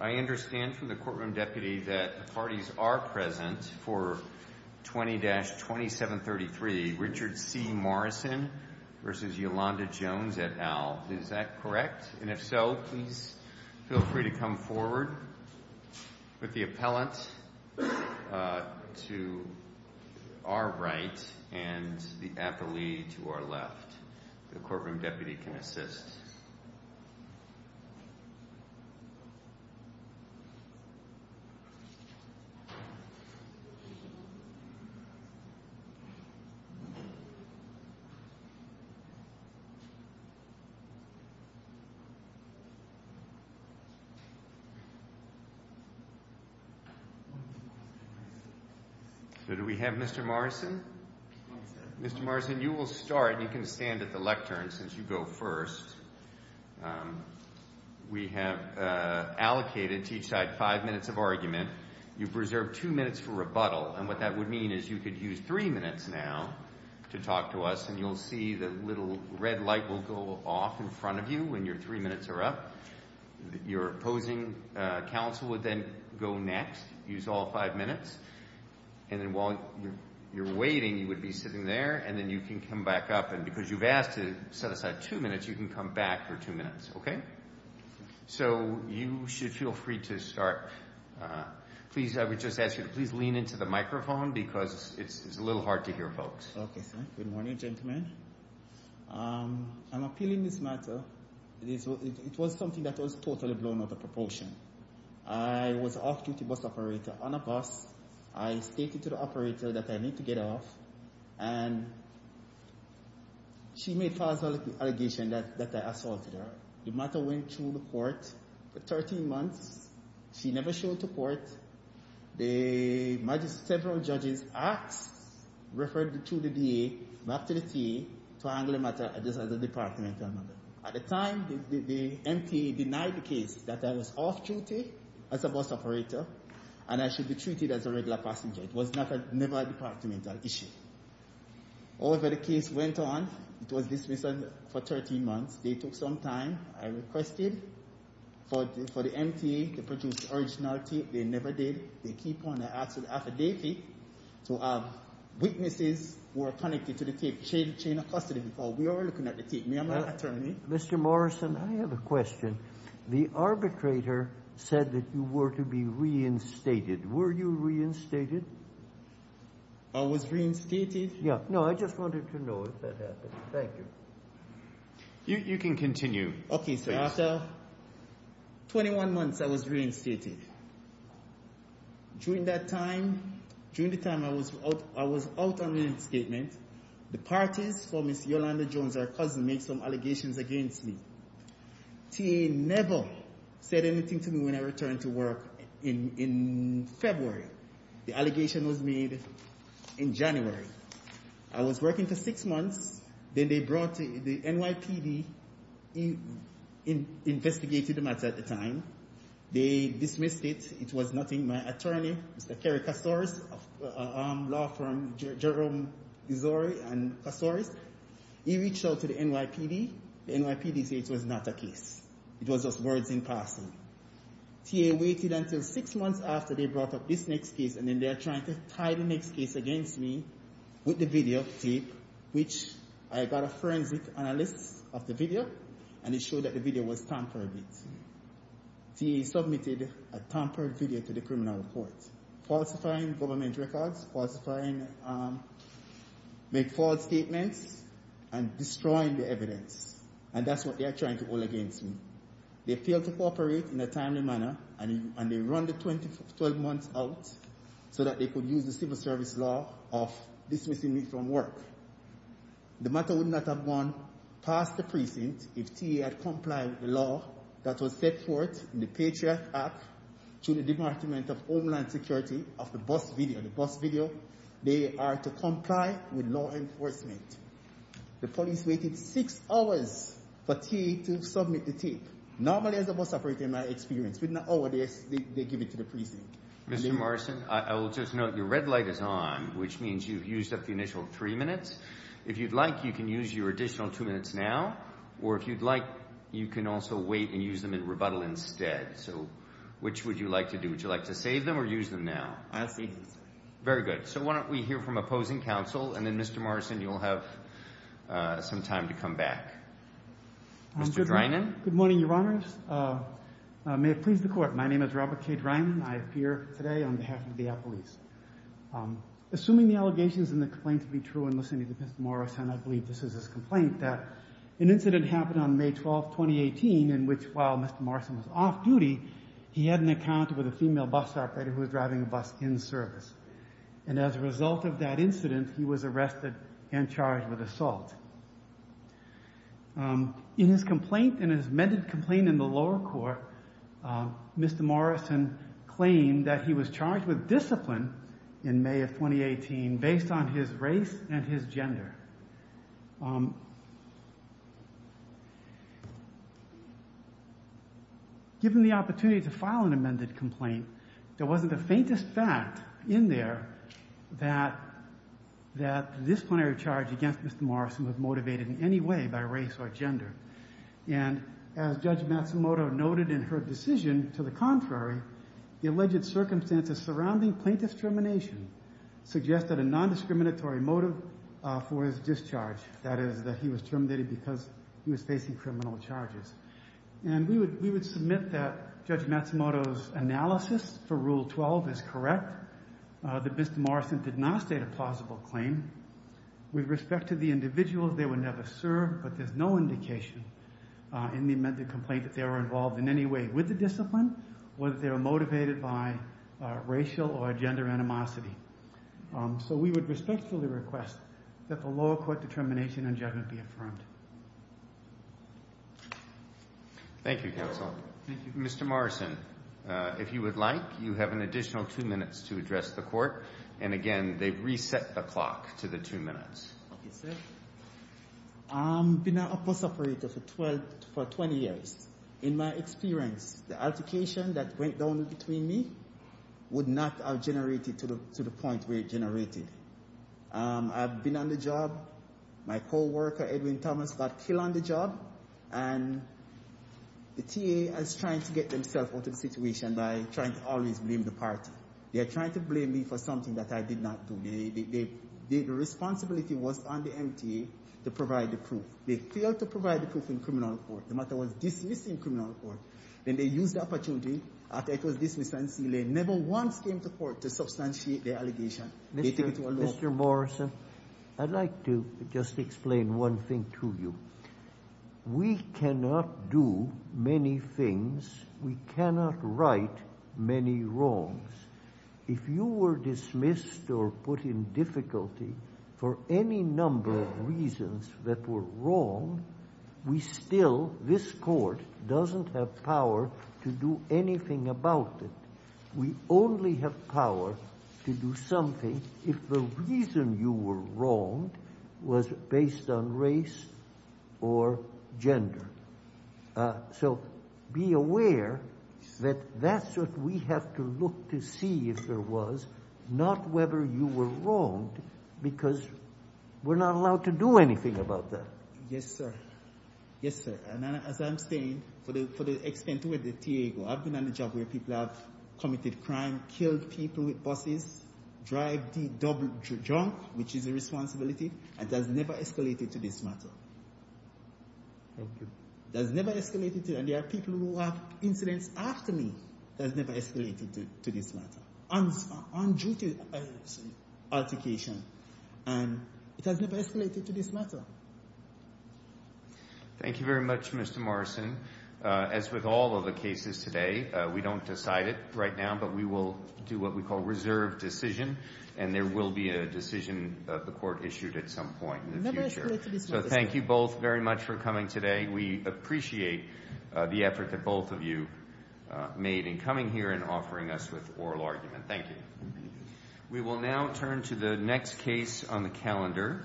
I understand from the courtroom deputy that the parties are present for 20-2733, Richard C. Morrison v. Yolanda Jones, et al. Is that correct? And if so, please feel free to come forward with the appellant to our right and the appellee to our left. The courtroom deputy can assist. So do we have Mr. Morrison? Mr. Morrison, you will start, and you can stand at the lectern since you go first. We have allocated to each side five minutes of argument. You've reserved two minutes for rebuttal, and what that would mean is you could use three minutes now to talk to us, and you'll see the little red light will go off in front of you when your three minutes are up. Your opposing counsel would then go next, use all five minutes, and then while you're waiting, you would be sitting there, and then you can come back up, and because you've asked to set aside two minutes, you can come back for two minutes, okay? So you should feel free to start. Please, I would just ask you to please lean into the microphone because it's a little hard to hear folks. Okay, sir. Good morning, gentlemen. I'm appealing this matter. It was something that was totally blown out of proportion. I was off-duty bus operator on a bus. I stated to the operator that I need to get off, and she made false allegations that I assaulted her. The matter went through the court for 13 months. She never showed to court. The several judges asked, referred to the DA, back to the TA, to handle the matter at a departmental level. At the time, the MTA denied the case that I was off-duty as a bus operator, and I should be treated as a regular passenger. It was never a departmental issue. However, the case went on. It was dismissed for 13 months. They took some time. I requested for the MTA to produce originality. They never did. They keep on the actual affidavit to have witnesses who are connected to the TA to chain a custody before. We are looking at the statement. I'm not an attorney. Mr. Morrison, I have a question. The arbitrator said that you were to be reinstated. Were you reinstated? I was reinstated? Yeah. No, I just wanted to know if that happened. Thank you. You can continue. Okay, sir. After 21 months, I was reinstated. During that time, during the time I was out on the escapement, the parties for Ms. Yolanda Jones, our cousin, made some allegations against me. TA never said anything to me when I returned to work in February. The allegation was made in January. I was working for six months, then they brought the NYPD, investigated the matter at the time. They dismissed it. It was nothing. My attorney, Mr. Kerry Kassouris, a law firm, Jerome Dizori and Kassouris, he reached out to the NYPD. The NYPD said it was not a case. It was just words in person. TA waited until six months after they brought up this next case, and then they are trying to tie the next case against me with the videotape, which I got a forensic analyst of the video, and he showed that the video was tampered with. TA submitted a tampered video to the criminal court, falsifying government records, falsifying make false statements, and destroying the evidence, and that's what they are trying to hold against me. They failed to cooperate in a timely manner, and they run the 12 months out so that they could use the civil service law of dismissing me from work. The matter would not have gone past the precinct if TA had complied with the law that was set forth in the Patriot Act to the Department of Homeland Security of the bus video. They are to comply with law enforcement. The police waited six hours for TA to submit the tape. Normally, as a bus operator, in my experience, within an hour, they give it to the precinct. Mr. Morrison, I will just note your red light is on, which means you've used up the initial three minutes. If you'd like, you can use your additional two minutes now, or if you'd like, you can also wait and use them in rebuttal instead. So which would you like to do? Would you like to save them or use them now? I'll save them. Very good. So why don't we hear from opposing counsel, and then, Mr. Morrison, you'll have some time to come back. Mr. Dreinen? Good morning, Your Honors. May it please the Court, my name is Robert K. Dreinen. I appear today on behalf of the Appalachian Police. Assuming the allegations in the complaint to be true, and listening to Mr. Morrison, I believe this is his complaint, that an incident happened on May 12, 2018, in which, while Mr. Morrison was off duty, he had an encounter with a female bus operator who was driving a bus in service. And as a result of that incident, he was arrested and charged with assault. In his complaint, in his amended complaint in the lower court, Mr. Morrison claimed that he was charged with discipline in May of 2018, based on his race and his gender. Given the opportunity to file an amended complaint, there wasn't the faintest fact in there that the disciplinary charge against Mr. Morrison was motivated in any way by race or gender. And as Judge Matsumoto noted in her decision, to the contrary, the alleged circumstances surrounding plaintiff's termination suggest that a non-discriminatory motive for his discharge, that is, that he was terminated because he was facing criminal charges. And we would submit that Judge Matsumoto's analysis for Rule 12 is correct, that Mr. Morrison did not state a plausible claim. With respect to the individuals, they were never served, but there's no indication in the amended complaint that they were involved in any way with the discipline, whether they were motivated by racial or gender animosity. So we would respectfully request that the lower court determination and judgment be affirmed. Thank you, counsel. Thank you. Mr. Morrison, if you would like, you have an additional two minutes to address the court. And again, they've reset the clock to the two minutes. Okay, sir. I've been a police operator for 20 years. In my experience, the altercation that went down between me would not have generated to the point where it generated. I've been on the job. My coworker, Edwin Thomas, got killed on the job. And the TA is trying to get themselves out of the situation by trying to always blame the party. They are trying to blame me for something that I did not do. The responsibility was on the MTA to provide the proof. They failed to provide the proof in criminal court. The matter was dismissed in criminal court. Then they used the opportunity after it was dismissed and sealed. They never once came to court to substantiate their allegation. Mr. Morrison, I'd like to just explain one thing to you. We cannot do many things. We cannot right many wrongs. If you were dismissed or put in difficulty for any number of reasons that were wrong, we still, this court, doesn't have power to do anything about it. We only have power to do something if the reason you were wronged was based on race or gender. So be aware that that's what we have to look to see if there was not whether you were wronged because we're not allowed to do anything about that. Yes, sir. Yes, sir. And as I'm saying, for the extent to which the TA go, I've been on the job where people have committed crime, killed people with buses, drive the double junk, which is a responsibility, and that's never escalated to this matter. Okay. That's never escalated to, and there are people who have incidents after me that's never escalated to this matter, on-duty altercation, and it has never escalated to this matter. Thank you very much, Mr. Morrison. As with all of the cases today, we don't decide it right now, but we will do what we call reserve decision, and there will be a decision of the court issued at some point in the future. So thank you both very much for coming today. We appreciate the effort that both of you made in coming here and offering us with oral argument. Thank you. We will now turn to the next case on the calendar.